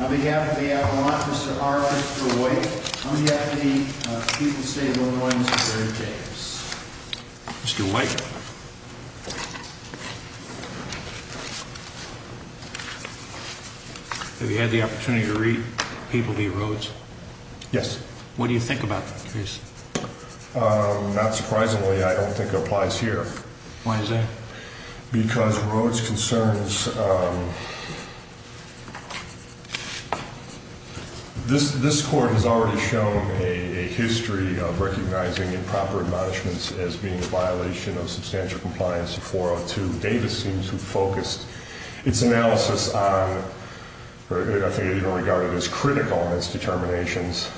On behalf of the Avalanche, Mr. Harper, Mr. White, on behalf of the people of the state of Illinois, Mr. James. Mr. White, have you had the opportunity to read People v. Rhodes? Yes. Not surprisingly, I don't think it applies here. Why is that? Because Rhodes' concerns... This court has already shown a history of recognizing improper admonishments as being a violation of substantial compliance 402. Davis seems to have focused its analysis on... I think it even regarded as critical in its determinations,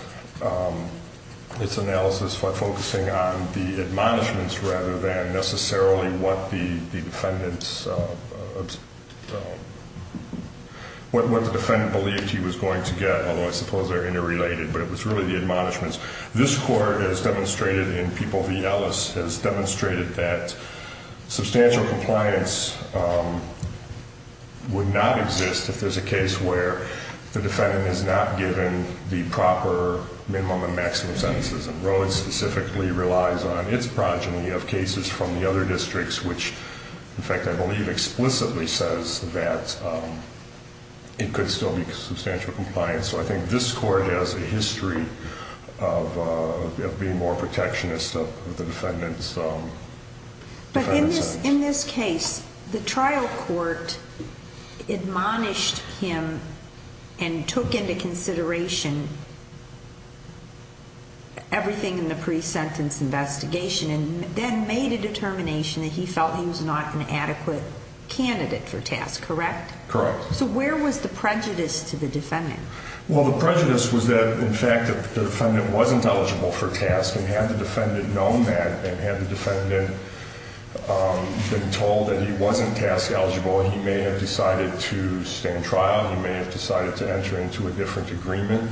its analysis focusing on the admonishments rather than necessarily what the defendant believed he was going to get, although I suppose they're interrelated, but it was really the admonishments. This court has demonstrated in People v. Ellis, has demonstrated that substantial compliance would not exist if there's a case where the defendant is not given the proper minimum and maximum sentences, and Rhodes specifically relies on its progeny of cases from the other districts, which, in fact, I believe explicitly says that it could still be substantial compliance. So I think this court has a history of being more protectionist of the defendant's sentence. But in this case, the trial court admonished him and took into consideration everything in the pre-sentence investigation and then made a determination that he felt he was not an adequate candidate for task, correct? Correct. So where was the prejudice to the defendant? Well, the prejudice was that, in fact, the defendant wasn't eligible for task, and had the defendant known that and had the defendant been told that he wasn't task eligible, he may have decided to stay in trial. He may have decided to enter into a different agreement.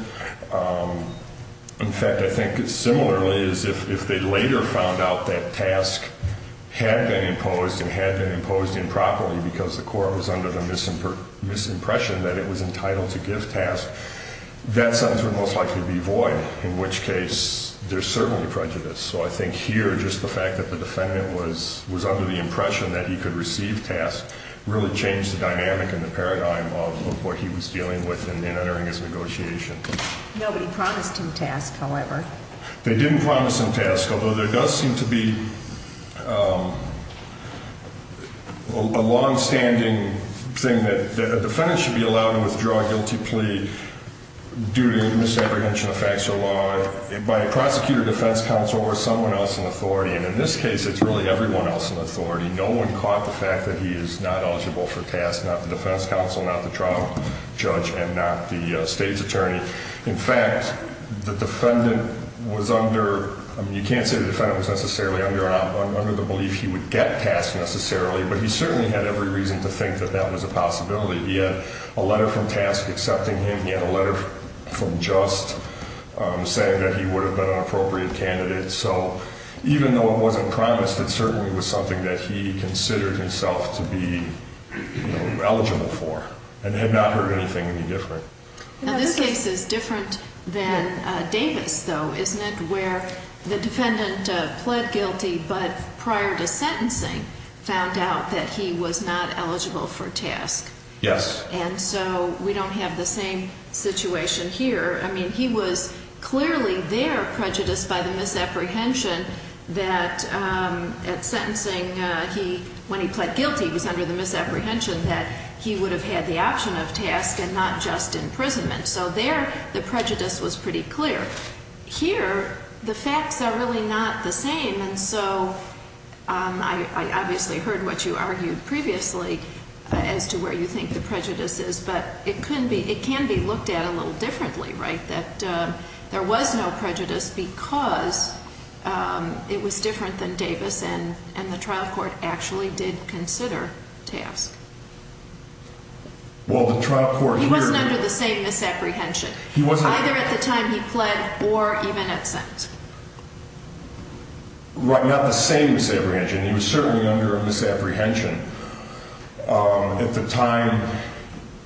In fact, I think similarly is if they later found out that task had been imposed and had been imposed improperly because the court was under the misimpression that it was entitled to give task, that sentence would most likely be void, in which case there's certainly prejudice. So I think here just the fact that the defendant was under the impression that he could receive task really changed the dynamic and the paradigm of what he was dealing with in entering his negotiation. Nobody promised him task, however. They didn't promise him task, although there does seem to be a longstanding thing that a defendant should be allowed to withdraw a guilty plea due to misapprehension of facts or law by a prosecutor, defense counsel, or someone else in authority. And in this case, it's really everyone else in authority. No one caught the fact that he is not eligible for task, not the defense counsel, not the trial judge, and not the state's attorney. In fact, the defendant was under, you can't say the defendant was necessarily under the belief he would get task necessarily, but he certainly had every reason to think that that was a possibility. He had a letter from task accepting him. He had a letter from just saying that he would have been an appropriate candidate. So even though it wasn't promised, it certainly was something that he considered himself to be eligible for and had not heard anything any different. Now, this case is different than Davis, though, isn't it, where the defendant pled guilty but prior to sentencing found out that he was not eligible for task? Yes. And so we don't have the same situation here. I mean, he was clearly there prejudiced by the misapprehension that at sentencing he, when he pled guilty, was under the misapprehension that he would have had the option of task and not just imprisonment. So there the prejudice was pretty clear. Here the facts are really not the same. And so I obviously heard what you argued previously as to where you think the prejudice is, but it can be looked at a little differently, right, that there was no prejudice because it was different than Davis and the trial court actually did consider task. Well, the trial court here... He wasn't under the same misapprehension either at the time he pled or even at sent. Right, not the same misapprehension. He was certainly under a misapprehension at the time.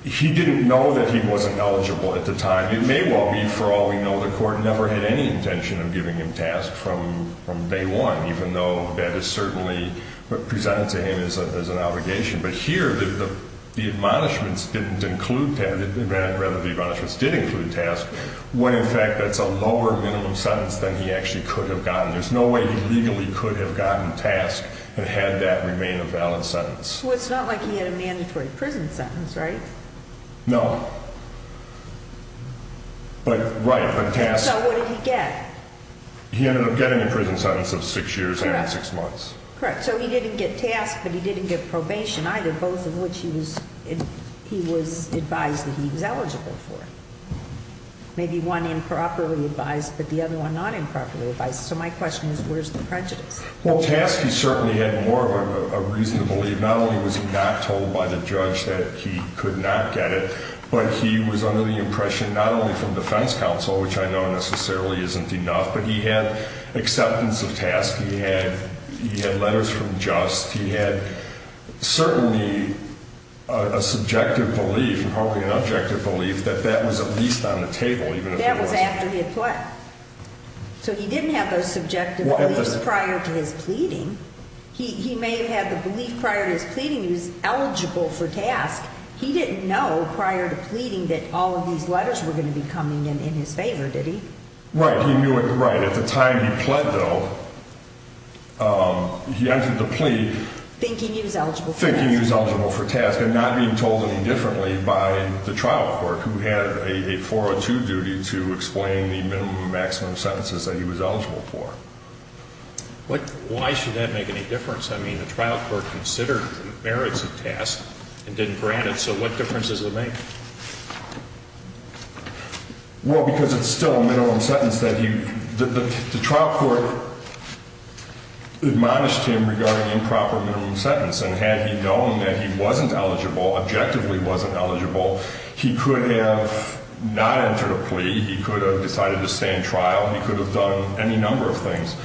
He didn't know that he wasn't eligible at the time. It may well be, for all we know, the court never had any intention of giving him task from day one, even though that is certainly presented to him as an obligation. But here the admonishments didn't include task, rather the admonishments did include task, when in fact that's a lower minimum sentence than he actually could have gotten. There's no way he legally could have gotten task and had that remain a valid sentence. Well, it's not like he had a mandatory prison sentence, right? No. But, right, but task... And so what did he get? He ended up getting a prison sentence of six years and six months. Correct, so he didn't get task, but he didn't get probation either, both of which he was advised that he was eligible for. Maybe one improperly advised, but the other one not improperly advised. So my question is where's the prejudice? Well, task he certainly had more of a reason to believe. Not only was he not told by the judge that he could not get it, but he was under the impression not only from defense counsel, which I know necessarily isn't enough, but he had acceptance of task. He had letters from just. He had certainly a subjective belief, probably an objective belief, that that was at least on the table even if it wasn't. That was after he had pled. So he didn't have those subjective beliefs prior to his pleading. He may have had the belief prior to his pleading he was eligible for task. He didn't know prior to pleading that all of these letters were going to be coming in his favor, did he? Right, he knew it right. At the time he pled, though, he entered the plea. Thinking he was eligible for task. Thinking he was eligible for task and not being told any differently by the trial court, who had a 402 duty to explain the minimum and maximum sentences that he was eligible for. Why should that make any difference? I mean, the trial court considered the merits of task and didn't grant it. So what difference does it make? Well, because it's still a minimum sentence that he. The trial court admonished him regarding improper minimum sentence, and had he known that he wasn't eligible, objectively wasn't eligible, he could have not entered a plea. He could have decided to stay in trial. He could have done any number of things.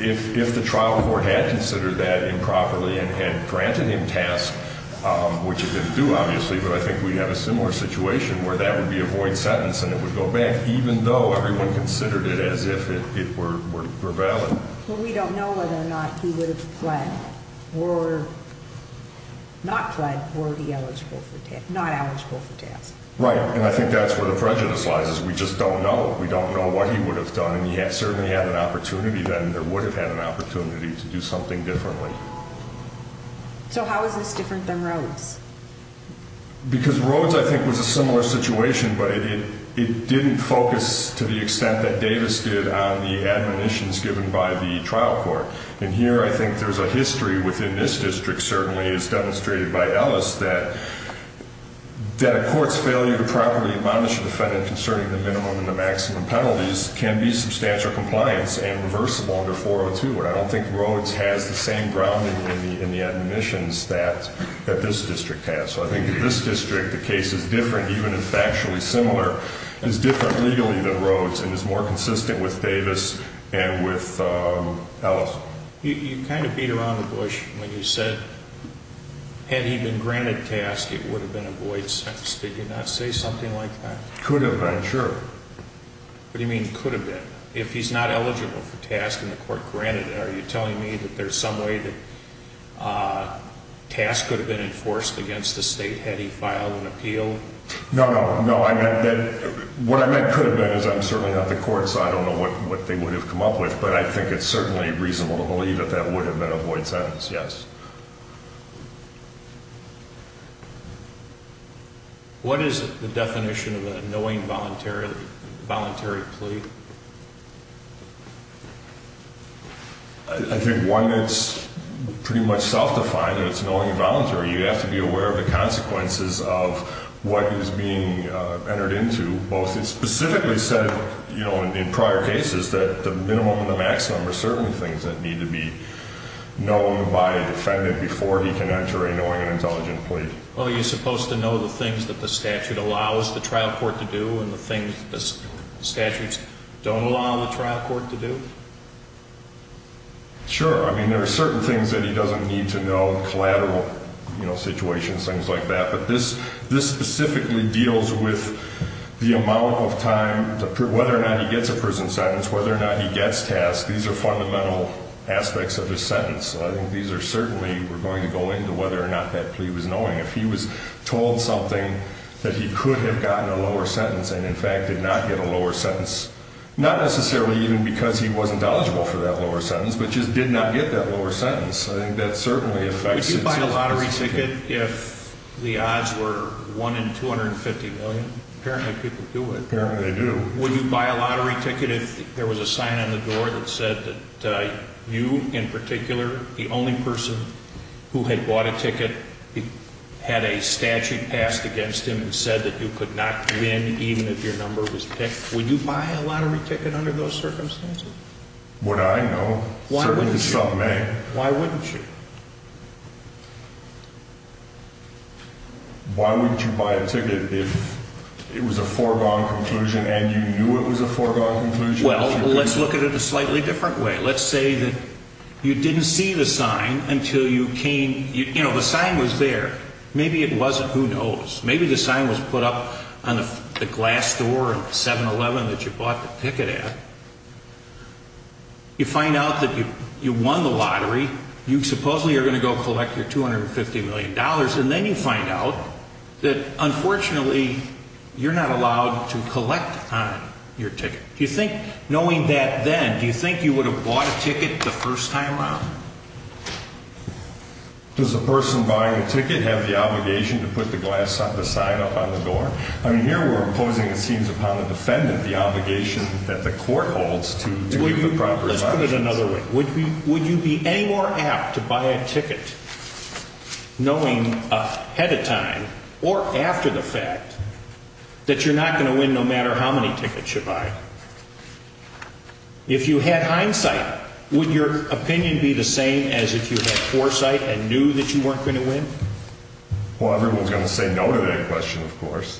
If the trial court had considered that improperly and had granted him task, which it didn't do, obviously, but I think we'd have a similar situation where that would be a void sentence and it would go back, even though everyone considered it as if it were valid. Well, we don't know whether or not he would have pled or not pled were he eligible for task, not eligible for task. Right, and I think that's where the prejudice lies is we just don't know. We don't know what he would have done, and he certainly had an opportunity then, or would have had an opportunity to do something differently. So how is this different than Rhodes? Because Rhodes, I think, was a similar situation, but it didn't focus to the extent that Davis did on the admonitions given by the trial court. And here I think there's a history within this district, certainly as demonstrated by Ellis, that a court's failure to properly admonish a defendant concerning the minimum and the maximum penalties can be substantial compliance and reversible under 402. And I don't think Rhodes has the same grounding in the admonitions that this district has. So I think in this district the case is different, even if factually similar, is different legally than Rhodes and is more consistent with Davis and with Ellis. So you kind of beat around the bush when you said had he been granted task it would have been a void sentence. Did you not say something like that? Could have been, sure. What do you mean could have been? If he's not eligible for task and the court granted it, are you telling me that there's some way that task could have been enforced against the state had he filed an appeal? No, no, no. What I meant could have been is I'm certainly not the court, so I don't know what they would have come up with, but I think it's certainly reasonable to believe that that would have been a void sentence, yes. What is the definition of a knowing voluntary plea? I think one that's pretty much self-defined is knowing voluntary. You have to be aware of the consequences of what is being entered into, and specifically said in prior cases that the minimum and the maximum are certainly things that need to be known by a defendant before he can enter a knowing and intelligent plea. Well, are you supposed to know the things that the statute allows the trial court to do and the things the statutes don't allow the trial court to do? Sure. I mean, there are certain things that he doesn't need to know, collateral situations, things like that, but this specifically deals with the amount of time, whether or not he gets a prison sentence, whether or not he gets tasked. These are fundamental aspects of his sentence. I think these are certainly going to go into whether or not that plea was knowing. If he was told something that he could have gotten a lower sentence and, in fact, did not get a lower sentence, not necessarily even because he wasn't eligible for that lower sentence, but just did not get that lower sentence, I think that certainly affects it. Would you buy a lottery ticket if the odds were 1 in 250 million? Apparently people do it. Apparently they do. Would you buy a lottery ticket if there was a sign on the door that said that you, in particular, the only person who had bought a ticket had a statute passed against him and said that you could not win even if your number was picked? Would you buy a lottery ticket under those circumstances? Would I? No. Why wouldn't you? Certainly some may. Why wouldn't you? Why wouldn't you buy a ticket if it was a foregone conclusion and you knew it was a foregone conclusion? Well, let's look at it a slightly different way. Let's say that you didn't see the sign until you came. You know, the sign was there. Maybe it wasn't. Who knows? Maybe the sign was put up on the glass door of the 7-Eleven that you bought the ticket at. You find out that you won the lottery. You supposedly are going to go collect your $250 million, and then you find out that, unfortunately, you're not allowed to collect on your ticket. Do you think, knowing that then, do you think you would have bought a ticket the first time around? Does the person buying the ticket have the obligation to put the sign up on the door? I mean, here we're imposing, it seems, upon the defendant the obligation that the court holds to give the proper signage. Let's put it another way. Would you be any more apt to buy a ticket knowing ahead of time or after the fact that you're not going to win no matter how many tickets you buy? If you had hindsight, would your opinion be the same as if you had foresight and knew that you weren't going to win? Well, everyone's going to say no to that question, of course.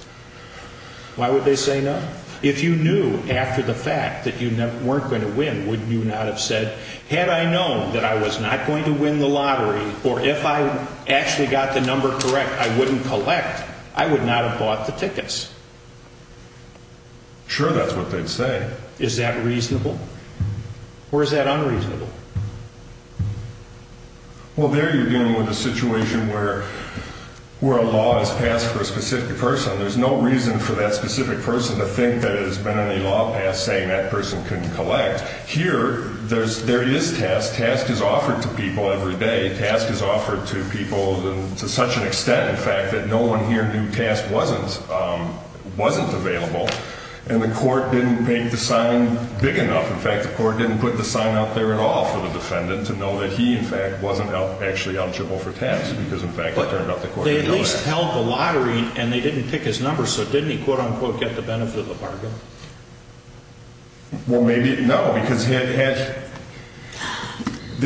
Why would they say no? If you knew after the fact that you weren't going to win, wouldn't you not have said, had I known that I was not going to win the lottery, or if I actually got the number correct, I wouldn't collect, I would not have bought the tickets. Sure, that's what they'd say. Is that reasonable? Or is that unreasonable? Well, there you're dealing with a situation where a law is passed for a specific person. There's no reason for that specific person to think that it has been any law passed saying that person couldn't collect. Here, there is task. Task is offered to people every day. Task is offered to people to such an extent, in fact, that no one here knew task wasn't available, and the court didn't make the sign big enough. In fact, the court didn't put the sign out there at all for the defendant to know that he, in fact, wasn't actually eligible for task because, in fact, it turned out the court didn't know that. But they at least held the lottery, and they didn't pick his number, so didn't he, quote-unquote, get the benefit of the bargain? Well, maybe, no, because they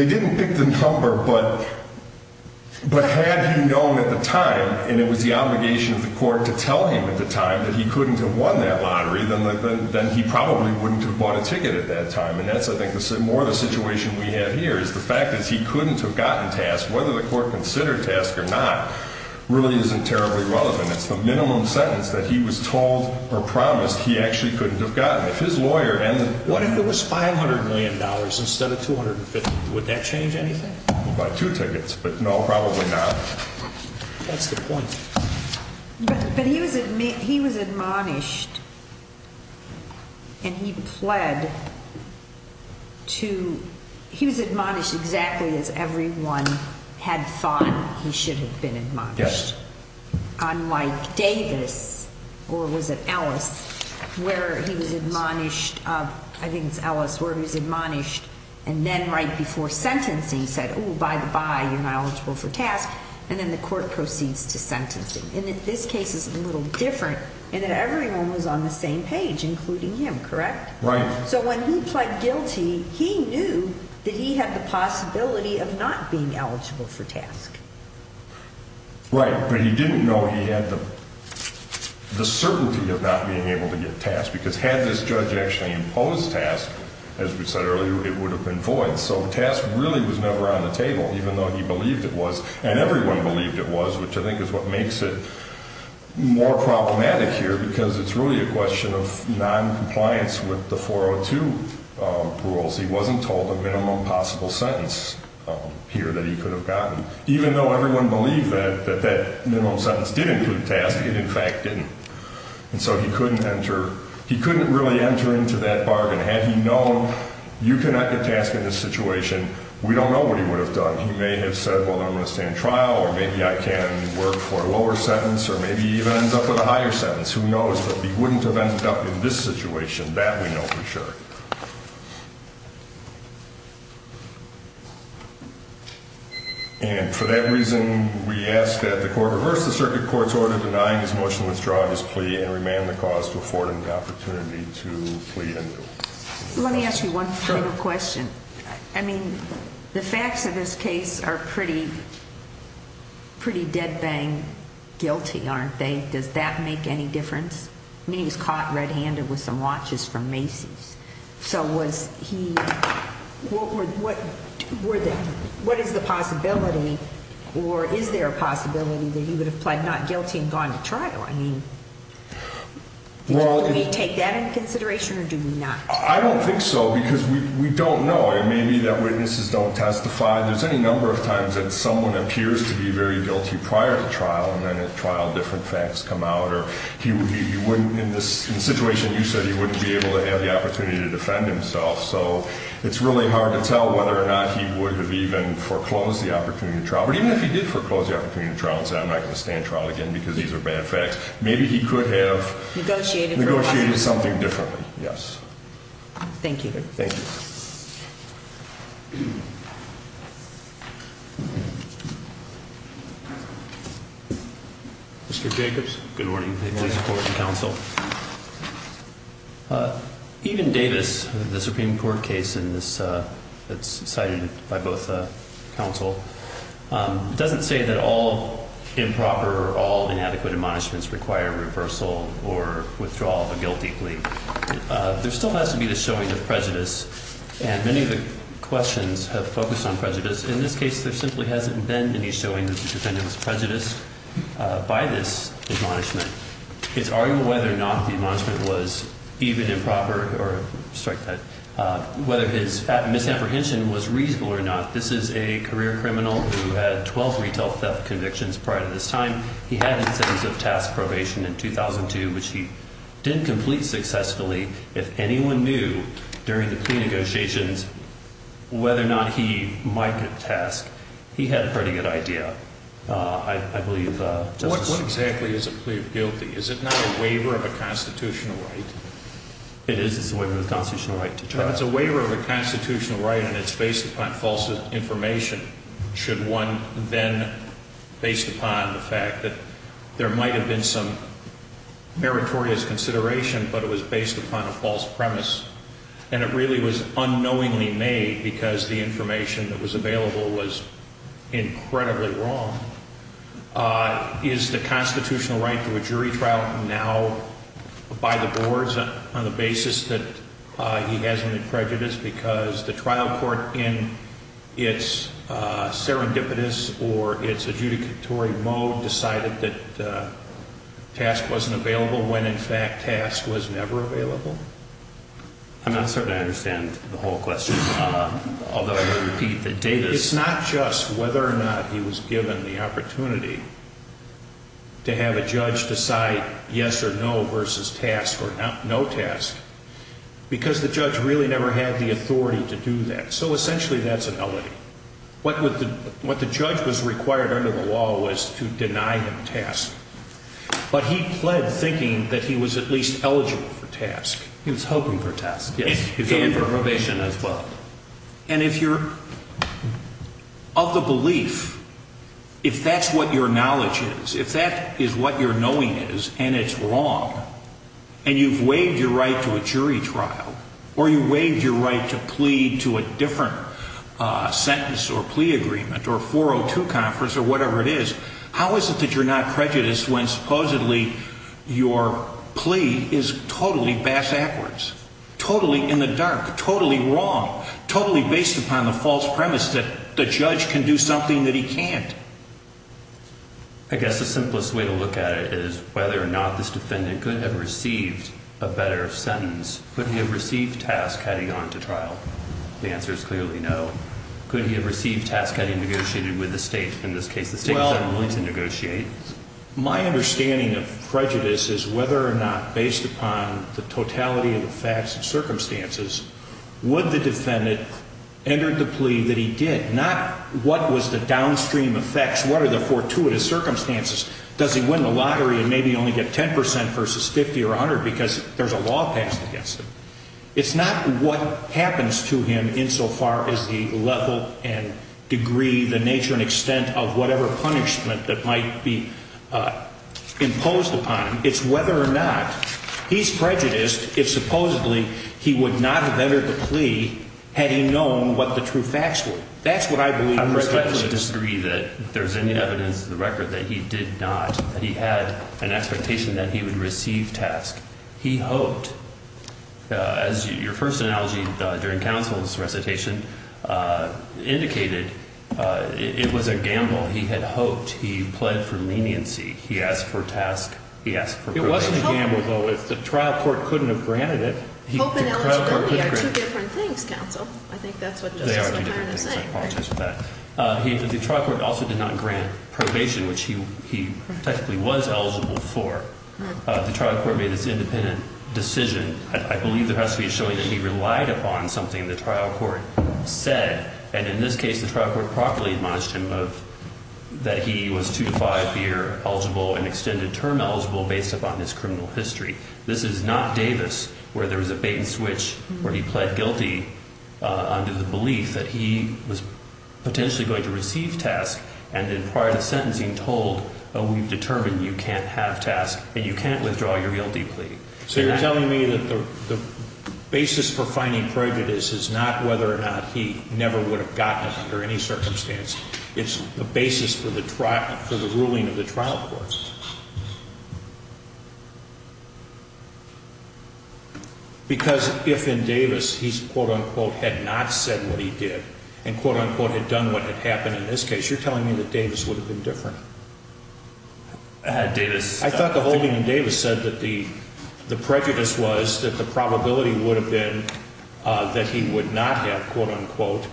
didn't pick the number, but had he known at the time, and it was the obligation of the court to tell him at the time that he couldn't have won that lottery, then he probably wouldn't have bought a ticket at that time, and that's, I think, more of the situation we have here, is the fact that he couldn't have gotten task, whether the court considered task or not, really isn't terribly relevant. It's the minimum sentence that he was told or promised he actually couldn't have gotten. If his lawyer hadn't... What if there was $500 million instead of $250 million? Would that change anything? He would buy two tickets, but no, probably not. That's the point. But he was admonished, and he pled to... He was admonished exactly as everyone had thought he should have been admonished. Yes. Unlike Davis, or was it Ellis, where he was admonished, I think it's Ellis, where he was admonished, and then right before sentencing said, oh, by the by, you're not eligible for task, and then the court proceeds to sentencing. And this case is a little different in that everyone was on the same page, including him, correct? Right. So when he pled guilty, he knew that he had the possibility of not being eligible for task. Right, but he didn't know he had the certainty of not being able to get task, because had this judge actually imposed task, as we said earlier, it would have been void. So task really was never on the table, even though he believed it was, and everyone believed it was, which I think is what makes it more problematic here, because it's really a question of noncompliance with the 402 rules. He wasn't told the minimum possible sentence here that he could have gotten. Even though everyone believed that that minimum sentence did include task, it in fact didn't. And so he couldn't enter. He couldn't really enter into that bargain. And had he known you cannot get task in this situation, we don't know what he would have done. He may have said, well, I'm going to stay in trial, or maybe I can work for a lower sentence, or maybe he even ends up with a higher sentence. Who knows? But he wouldn't have ended up in this situation. That we know for sure. And for that reason, we ask that the court reverse the circuit court's order denying his motion to withdraw his plea and remand the cause to afford him the opportunity to plea anew. Let me ask you one final question. I mean, the facts of this case are pretty dead bang guilty, aren't they? Does that make any difference? I mean, he was caught red-handed with some watches from Macy's. So was he – what is the possibility, or is there a possibility that he would have pled not guilty and gone to trial? I mean, do we take that into consideration, or do we not? I don't think so, because we don't know. It may be that witnesses don't testify. There's any number of times that someone appears to be very guilty prior to trial, and then at trial different facts come out. Or he wouldn't, in the situation you said, he wouldn't be able to have the opportunity to defend himself. So it's really hard to tell whether or not he would have even foreclosed the opportunity to trial. But even if he did foreclose the opportunity to trial and said, I'm not going to stand trial again because these are bad facts, maybe he could have negotiated something differently. Yes. Thank you. Thank you. Mr. Jacobs. Good morning. Please support the counsel. Even Davis, the Supreme Court case that's cited by both counsel, doesn't say that all improper or all inadequate admonishments require reversal or withdrawal of a guilty plea. There still has to be the showing of prejudice, and many of the questions have focused on prejudice. In this case, there simply hasn't been any showing that the defendant was prejudiced by this admonishment. It's arguable whether or not the admonishment was even improper, or strike that, whether his misapprehension was reasonable or not. This is a career criminal who had 12 retail theft convictions prior to this time. He had incentives of task probation in 2002, which he didn't complete successfully. If anyone knew during the plea negotiations whether or not he might get a task, he had a pretty good idea, I believe. What exactly is a plea of guilty? Is it not a waiver of a constitutional right? It is. It's a waiver of a constitutional right to trial. It's a waiver of a constitutional right, and it's based upon false information, should one then, based upon the fact that there might have been some meritorious consideration, but it was based upon a false premise, and it really was unknowingly made because the information that was available was incredibly wrong. Is the constitutional right to a jury trial now by the boards on the basis that he has any prejudice because the trial court, in its serendipitous or its adjudicatory mode, decided that task wasn't available when, in fact, task was never available? I'm not certain I understand the whole question, although I will repeat the data. It's not just whether or not he was given the opportunity to have a judge decide yes or no versus task or no task because the judge really never had the authority to do that. So essentially that's a melody. What the judge was required under the law was to deny him task, but he pled thinking that he was at least eligible for task. He was hoping for task. Yes. And for probation as well. And if you're of the belief, if that's what your knowledge is, if that is what your knowing is and it's wrong, and you've waived your right to a jury trial or you waived your right to plead to a different sentence or plea agreement or 402 conference or whatever it is, how is it that you're not prejudiced when supposedly your plea is totally bass-ackwards, totally in the dark, totally wrong, totally based upon the false premise that the judge can do something that he can't? I guess the simplest way to look at it is whether or not this defendant could have received a better sentence. Could he have received task had he gone to trial? The answer is clearly no. Could he have received task had he negotiated with the state? In this case, the state was unwilling to negotiate. My understanding of prejudice is whether or not, based upon the totality of the facts and circumstances, would the defendant enter the plea that he did, not what was the downstream effects, what are the fortuitous circumstances, does he win the lottery and maybe only get 10% versus 50% or 100% because there's a law passed against him. It's not what happens to him insofar as the level and degree, the nature and extent, of whatever punishment that might be imposed upon him. It's whether or not he's prejudiced if supposedly he would not have entered the plea had he known what the true facts were. That's what I believe in this case. I respectfully disagree that there's any evidence to the record that he did not, that he had an expectation that he would receive task. He hoped, as your first analogy during counsel's recitation indicated, it was a gamble. He had hoped. He pled for leniency. He asked for task. He asked for probation. It wasn't a gamble, though. The trial court couldn't have granted it. Hope and eligibility are two different things, counsel. I think that's what justice is trying to say. They are two different things. I apologize for that. The trial court also did not grant probation, which he technically was eligible for. The trial court made this independent decision. I believe there has to be a showing that he relied upon something the trial court said. And in this case, the trial court properly admonished him of, that he was two to five year eligible and extended term eligible based upon his criminal history. This is not Davis where there was a bait and switch where he pled guilty under the belief that he was potentially going to receive task. And then prior to sentencing told, oh, we've determined you can't have task and you can't withdraw your guilty plea. So you're telling me that the basis for finding prejudice is not whether or not he never would have gotten it under any circumstance. It's the basis for the ruling of the trial court. Because if in Davis he's quote, unquote, had not said what he did and quote, unquote, had done what had happened in this case, you're telling me that Davis would have been different. Davis, I thought the holding in Davis said that the prejudice was that the probability would have been that he would not have quote, unquote,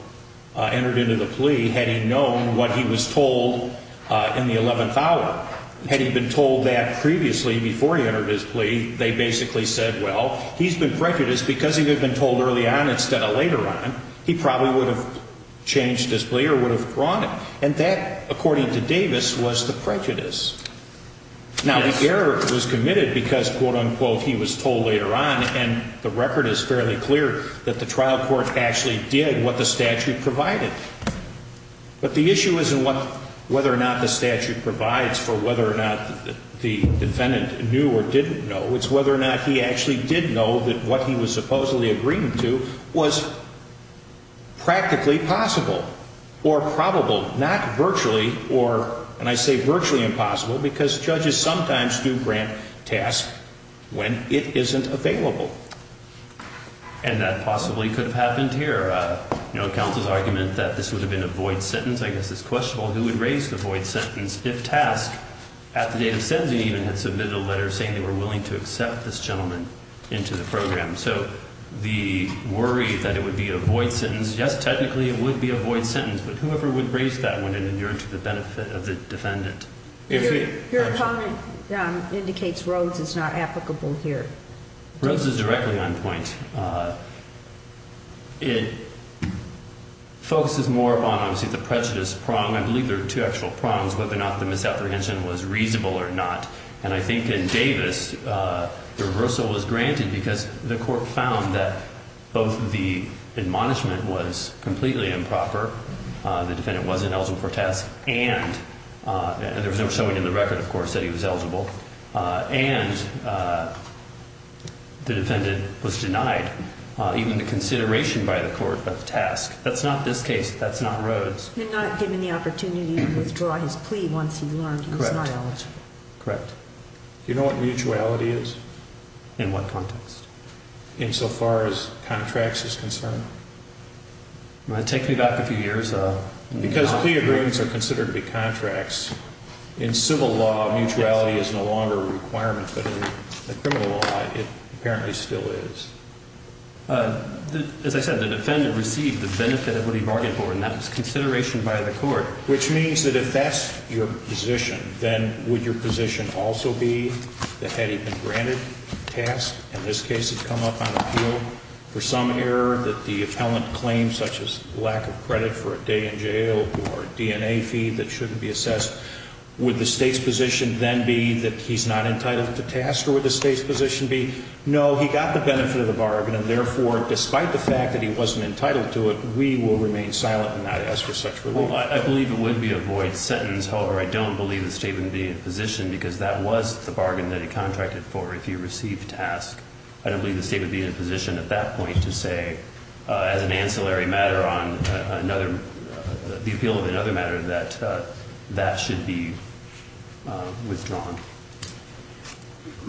entered into the plea. Had he known what he was told in the 11th hour? Had he been told that previously before he entered his plea, they basically said, well, he's been prejudiced because he had been told early on instead of later on. He probably would have changed his plea or would have drawn it. And that, according to Davis, was the prejudice. Now, the error was committed because quote, unquote, he was told later on. And the record is fairly clear that the trial court actually did what the statute provided. But the issue isn't whether or not the statute provides for whether or not the defendant knew or didn't know. It's whether or not he actually did know that what he was supposedly agreeing to was practically possible or probable. Not virtually or, and I say virtually impossible, because judges sometimes do grant tasks when it isn't available. And that possibly could have happened here. You know, counsel's argument that this would have been a void sentence, I guess, is questionable. Who would raise the void sentence if TASC, at the date of sentencing even, had submitted a letter saying they were willing to accept this gentleman into the program? So the worry that it would be a void sentence, yes, technically it would be a void sentence. But whoever would raise that one and adhere to the benefit of the defendant? Your comment indicates Rhodes is not applicable here. Rhodes is directly on point. It focuses more upon, obviously, the prejudice prong. I believe there are two actual prongs, whether or not the misapprehension was reasonable or not. And I think in Davis, the reversal was granted because the court found that both the admonishment was completely improper, the defendant wasn't eligible for TASC, and there was no showing in the record, of course, that he was eligible, and the defendant was denied even the consideration by the court of TASC. That's not this case. That's not Rhodes. He was not given the opportunity to withdraw his plea once he learned his biology. Correct. Correct. Do you know what mutuality is? In what context? Insofar as contracts is concerned. Take me back a few years, though. Because plea agreements are considered to be contracts. In civil law, mutuality is no longer a requirement. But in the criminal law, it apparently still is. As I said, the defendant received the benefit of what he bargained for, and that was consideration by the court. Which means that if that's your position, then would your position also be that had he been granted TASC, and this case had come up on appeal for some error that the appellant claimed, such as lack of credit for a day in jail or a DNA feed that shouldn't be assessed, would the State's position then be that he's not entitled to TASC, or would the State's position be, no, he got the benefit of the bargain, and therefore, despite the fact that he wasn't entitled to it, we will remain silent and not ask for such relief. Well, I believe it would be a void sentence. However, I don't believe the State would be in a position, because that was the bargain that he contracted for if he received TASC. I don't believe the State would be in a position at that point to say, as an ancillary matter on the appeal of another matter, that that should be withdrawn.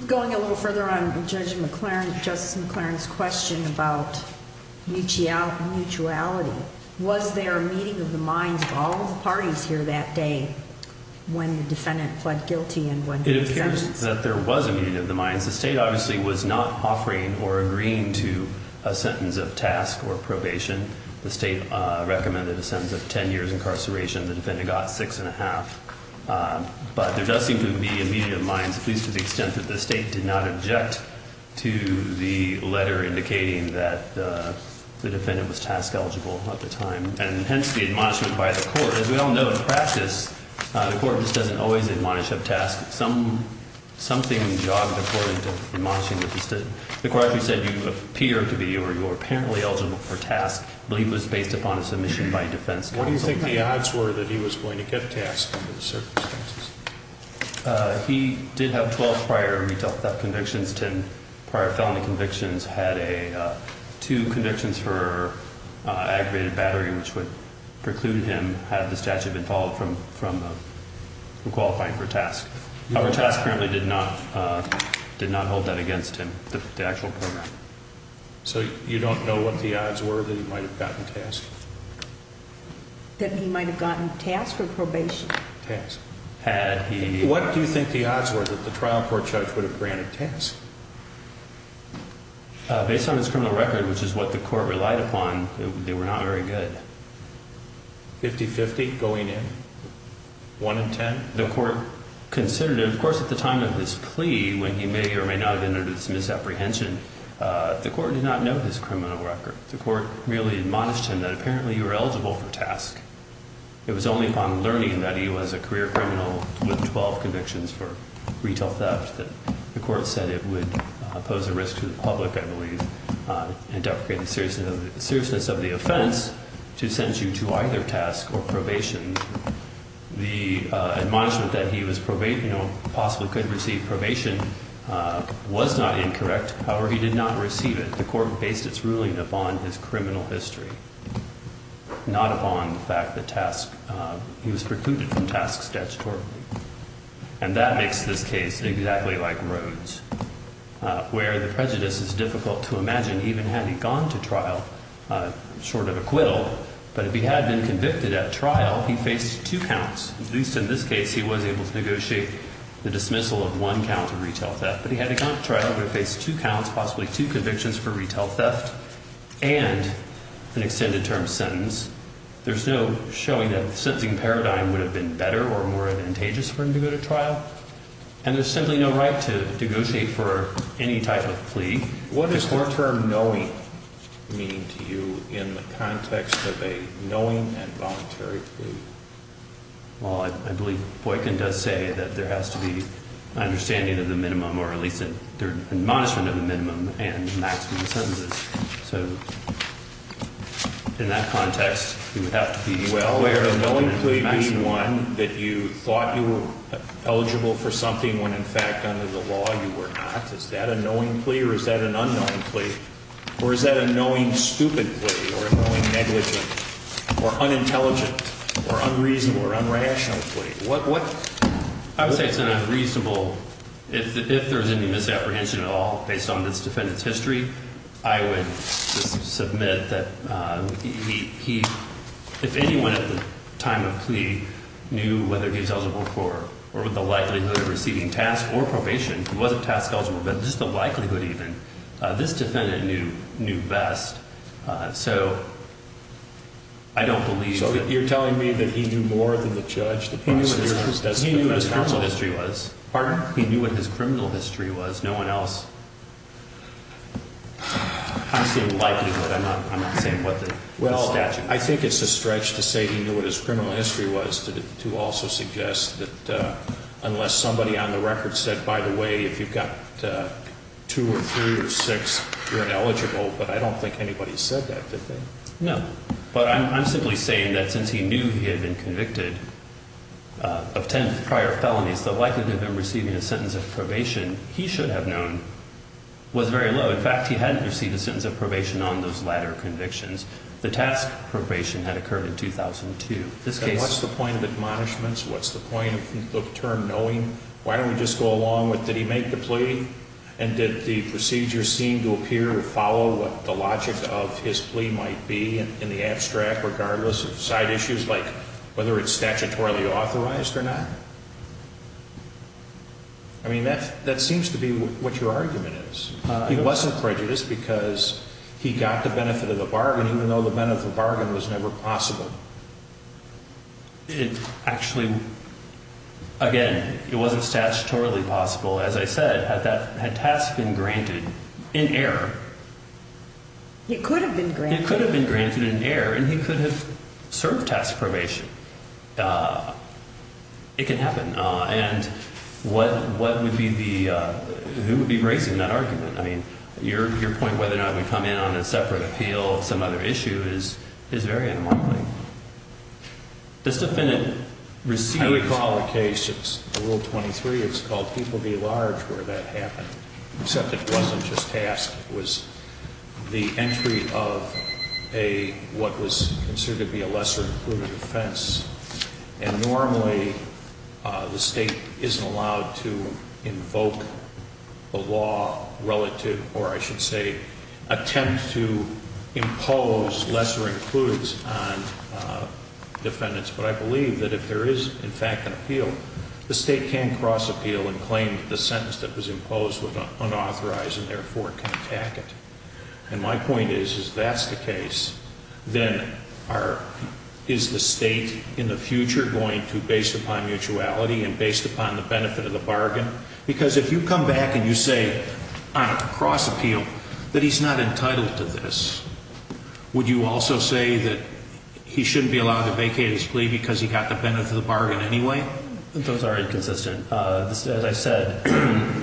Going a little further on Judge McLaren, Justice McLaren's question about mutuality, was there a meeting of the minds of all of the parties here that day when the defendant pled guilty? It appears that there was a meeting of the minds. The State obviously was not offering or agreeing to a sentence of TASC or probation. The State recommended a sentence of 10 years incarceration. The defendant got six and a half. But there does seem to be a meeting of the minds, at least to the extent that the State did not object to the letter indicating that the defendant was TASC eligible at the time, and hence the admonishment by the court. As we all know, in practice, the court just doesn't always admonish of TASC. Something jogged the court into admonishing the State. The court actually said, you appear to be or you're apparently eligible for TASC. I believe it was based upon a submission by defense counsel. What do you think the odds were that he was going to get TASC under the circumstances? He did have 12 prior retell convictions. Ten prior felony convictions. Had two convictions for aggravated battery, which would preclude him had the statute been followed from qualifying for TASC. However, TASC apparently did not hold that against him, the actual program. So you don't know what the odds were that he might have gotten TASC? That he might have gotten TASC or probation? TASC. What do you think the odds were that the trial court judge would have granted TASC? Based on his criminal record, which is what the court relied upon, they were not very good. Fifty-fifty going in? One in ten? The court considered it. Of course, at the time of this plea, when he may or may not have entered into this misapprehension, the court did not know his criminal record. The court merely admonished him that apparently you were eligible for TASC. It was only upon learning that he was a career criminal with 12 convictions for retail theft that the court said it would pose a risk to the public, I believe, and deprecated seriousness of the offense to sentence you to either TASC or probation. The admonishment that he possibly could receive probation was not incorrect. However, he did not receive it. The court based its ruling upon his criminal history, not upon the fact that he was precluded from TASC statutorily. And that makes this case exactly like Rhodes, where the prejudice is difficult to imagine even had he gone to trial short of acquittal. But if he had been convicted at trial, he faced two counts. At least in this case, he was able to negotiate the dismissal of one count of retail theft. But if he had gone to trial, he would have faced two counts, possibly two convictions for retail theft and an extended term sentence. There's no showing that the sentencing paradigm would have been better or more advantageous for him to go to trial. And there's simply no right to negotiate for any type of plea. What does the term knowing mean to you in the context of a knowing and voluntary plea? Well, I believe Boykin does say that there has to be an understanding of the minimum or at least an admonishment of the minimum and maximum sentences. So in that context, you would have to be aware of knowing plea being one that you thought you were eligible for something when in fact under the law you were not. Is that a knowing plea or is that an unknown plea? Or is that a knowing stupid plea or a knowing negligent or unintelligent or unreasonable or unrational plea? I would say it's an unreasonable, if there's any misapprehension at all based on this defendant's history, I would submit that if anyone at the time of plea knew whether he was eligible for or with the likelihood of receiving task or probation, he wasn't task eligible, but just the likelihood even, this defendant knew best. So you're telling me that he knew more than the judge? He knew what his criminal history was. Pardon? He knew what his criminal history was. No one else. I'm saying likelihood. I'm not saying what the statute is. Well, I think it's a stretch to say he knew what his criminal history was to also suggest that unless somebody on the record said, by the way, if you've got two or three or six, you're ineligible, but I don't think anybody said that, did they? No. But I'm simply saying that since he knew he had been convicted of ten prior felonies, the likelihood of him receiving a sentence of probation, he should have known, was very low. In fact, he hadn't received a sentence of probation on those latter convictions. The task probation had occurred in 2002. What's the point of admonishments? What's the point of the term knowing? Why don't we just go along with, did he make the plea? And did the procedure seem to appear to follow what the logic of his plea might be in the abstract, regardless of side issues, like whether it's statutorily authorized or not? I mean, that seems to be what your argument is. He wasn't prejudiced because he got the benefit of the bargain, even though the benefit of the bargain was never possible. Actually, again, it wasn't statutorily possible. As I said, had task been granted in error? It could have been granted. It could have been granted in error, and he could have served task probation. It can happen. And what would be the, who would be raising that argument? I mean, your point whether or not it would come in on a separate appeal, some other issue, is very unmarked. This defendant received... I recall a case, it's Rule 23, it's called People Be Large where that happened, except it wasn't just task. It was the entry of a, what was considered to be a lesser-included offense. And normally, the State isn't allowed to invoke a law relative, or I should say, attempt to impose lesser-includes on defendants. But I believe that if there is, in fact, an appeal, the State can cross-appeal and claim that the sentence that was imposed was unauthorized, and therefore can attack it. And my point is, if that's the case, then are, is the State in the future going to, based upon mutuality and based upon the benefit of the bargain, because if you come back and you say on a cross-appeal that he's not entitled to this, would you also say that he shouldn't be allowed to vacate his plea because he got the benefit of the bargain anyway? Those are inconsistent. As I said,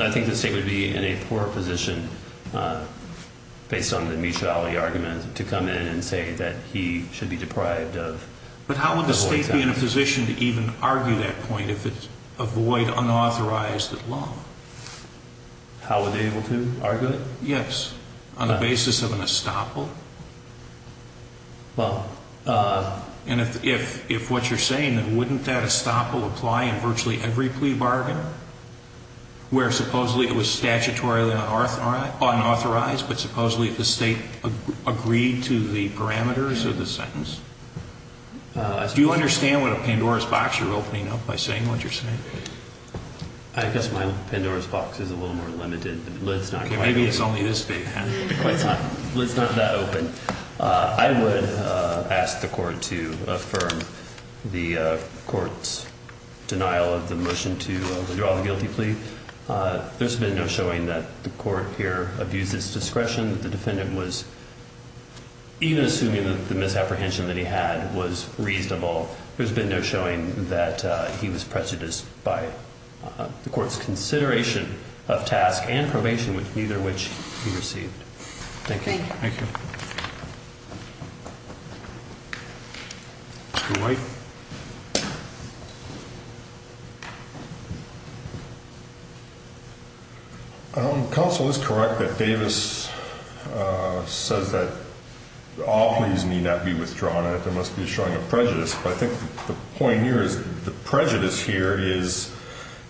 I think the State would be in a poor position, based on the mutuality argument, to come in and say that he should be deprived of... But how would the State be in a position to even argue that point if it's a void, unauthorized law? How would they be able to argue it? Yes, on the basis of an estoppel. Well... And if what you're saying, that wouldn't that estoppel apply in virtually every plea bargain, where supposedly it was statutorily unauthorized, but supposedly the State agreed to the parameters of the sentence? Do you understand what a Pandora's box you're opening up by saying what you're saying? I guess my Pandora's box is a little more limited. Maybe it's only this big. It's not that open. I would ask the Court to affirm the Court's denial of the motion to withdraw the guilty plea. There's been no showing that the Court here abused its discretion. The defendant was, even assuming that the misapprehension that he had was reasonable, there's been no showing that he was prejudiced by the Court's consideration of task and probation, neither of which he received. Thank you. Thank you. Dwight? Counsel is correct that Davis says that all pleas need not be withdrawn. There must be a showing of prejudice. But I think the point here is the prejudice here is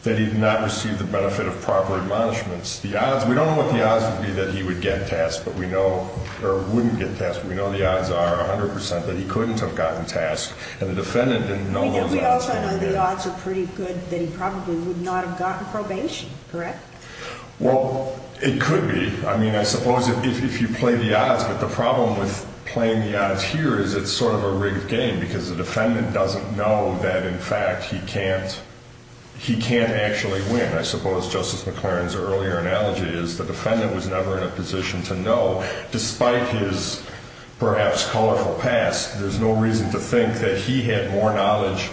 that he did not receive the benefit of proper admonishments. We don't know what the odds would be that he would get tasked, or wouldn't get tasked. We know the odds are 100% that he couldn't have gotten tasked, and the defendant didn't know those odds. We also know the odds are pretty good that he probably would not have gotten probation, correct? Well, it could be. I mean, I suppose if you play the odds, but the problem with playing the odds here is it's sort of a rigged game because the defendant doesn't know that, in fact, he can't actually win. I suppose Justice McLaren's earlier analogy is the defendant was never in a position to know. Despite his perhaps colorful past, there's no reason to think that he had more knowledge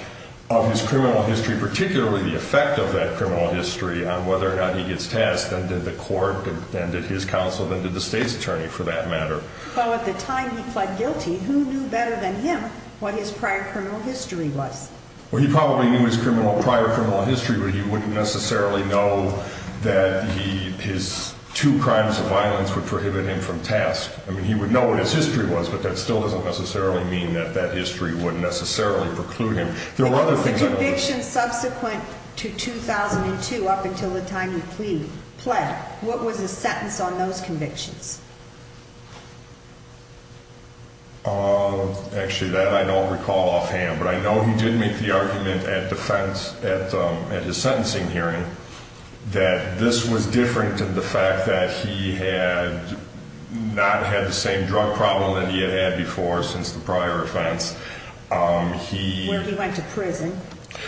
of his criminal history, particularly the effect of that criminal history on whether or not he gets tasked than did the court, than did his counsel, than did the state's attorney for that matter. Well, at the time he pled guilty, who knew better than him what his prior criminal history was? Well, he probably knew his prior criminal history, but he wouldn't necessarily know that his two crimes of violence would prohibit him from task. I mean, he would know what his history was, but that still doesn't necessarily mean that that history wouldn't necessarily preclude him. The conviction subsequent to 2002, up until the time he pled, what was his sentence on those convictions? Actually, that I don't recall offhand, but I know he did make the argument at defense at his sentencing hearing that this was different in the fact that he had not had the same drug problem that he had had before since the prior offense. Well, he went to prison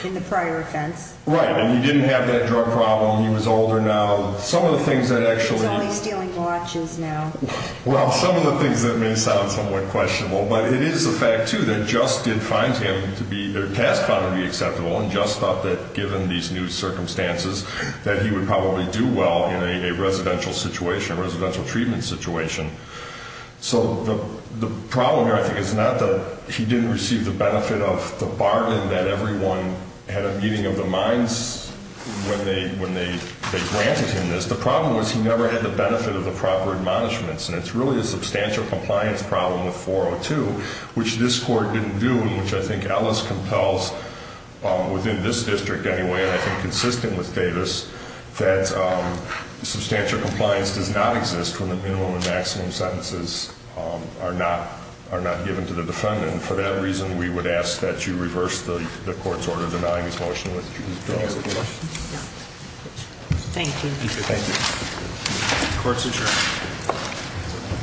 in the prior offense. Right, and he didn't have that drug problem. He was older now. Some of the things that actually... He's only stealing watches now. Well, some of the things that may sound somewhat questionable, but it is a fact, too, that Just did find him to be, or Task found him to be acceptable, and Just thought that given these new circumstances, that he would probably do well in a residential situation, a residential treatment situation. So the problem here, I think, is not that he didn't receive the benefit of the bargain that everyone had a meeting of the minds when they granted him this. The problem was he never had the benefit of the proper admonishments, and it's really a substantial compliance problem with 402, which this Court didn't do, and which I think Ellis compels within this district anyway, and I think consistent with Davis, that substantial compliance does not exist when the minimum and maximum sentences are not given to the defendant. For that reason, we would ask that you reverse the Court's order denying his motion to withdraw his appeal. Thank you. Thank you. Court's adjourned.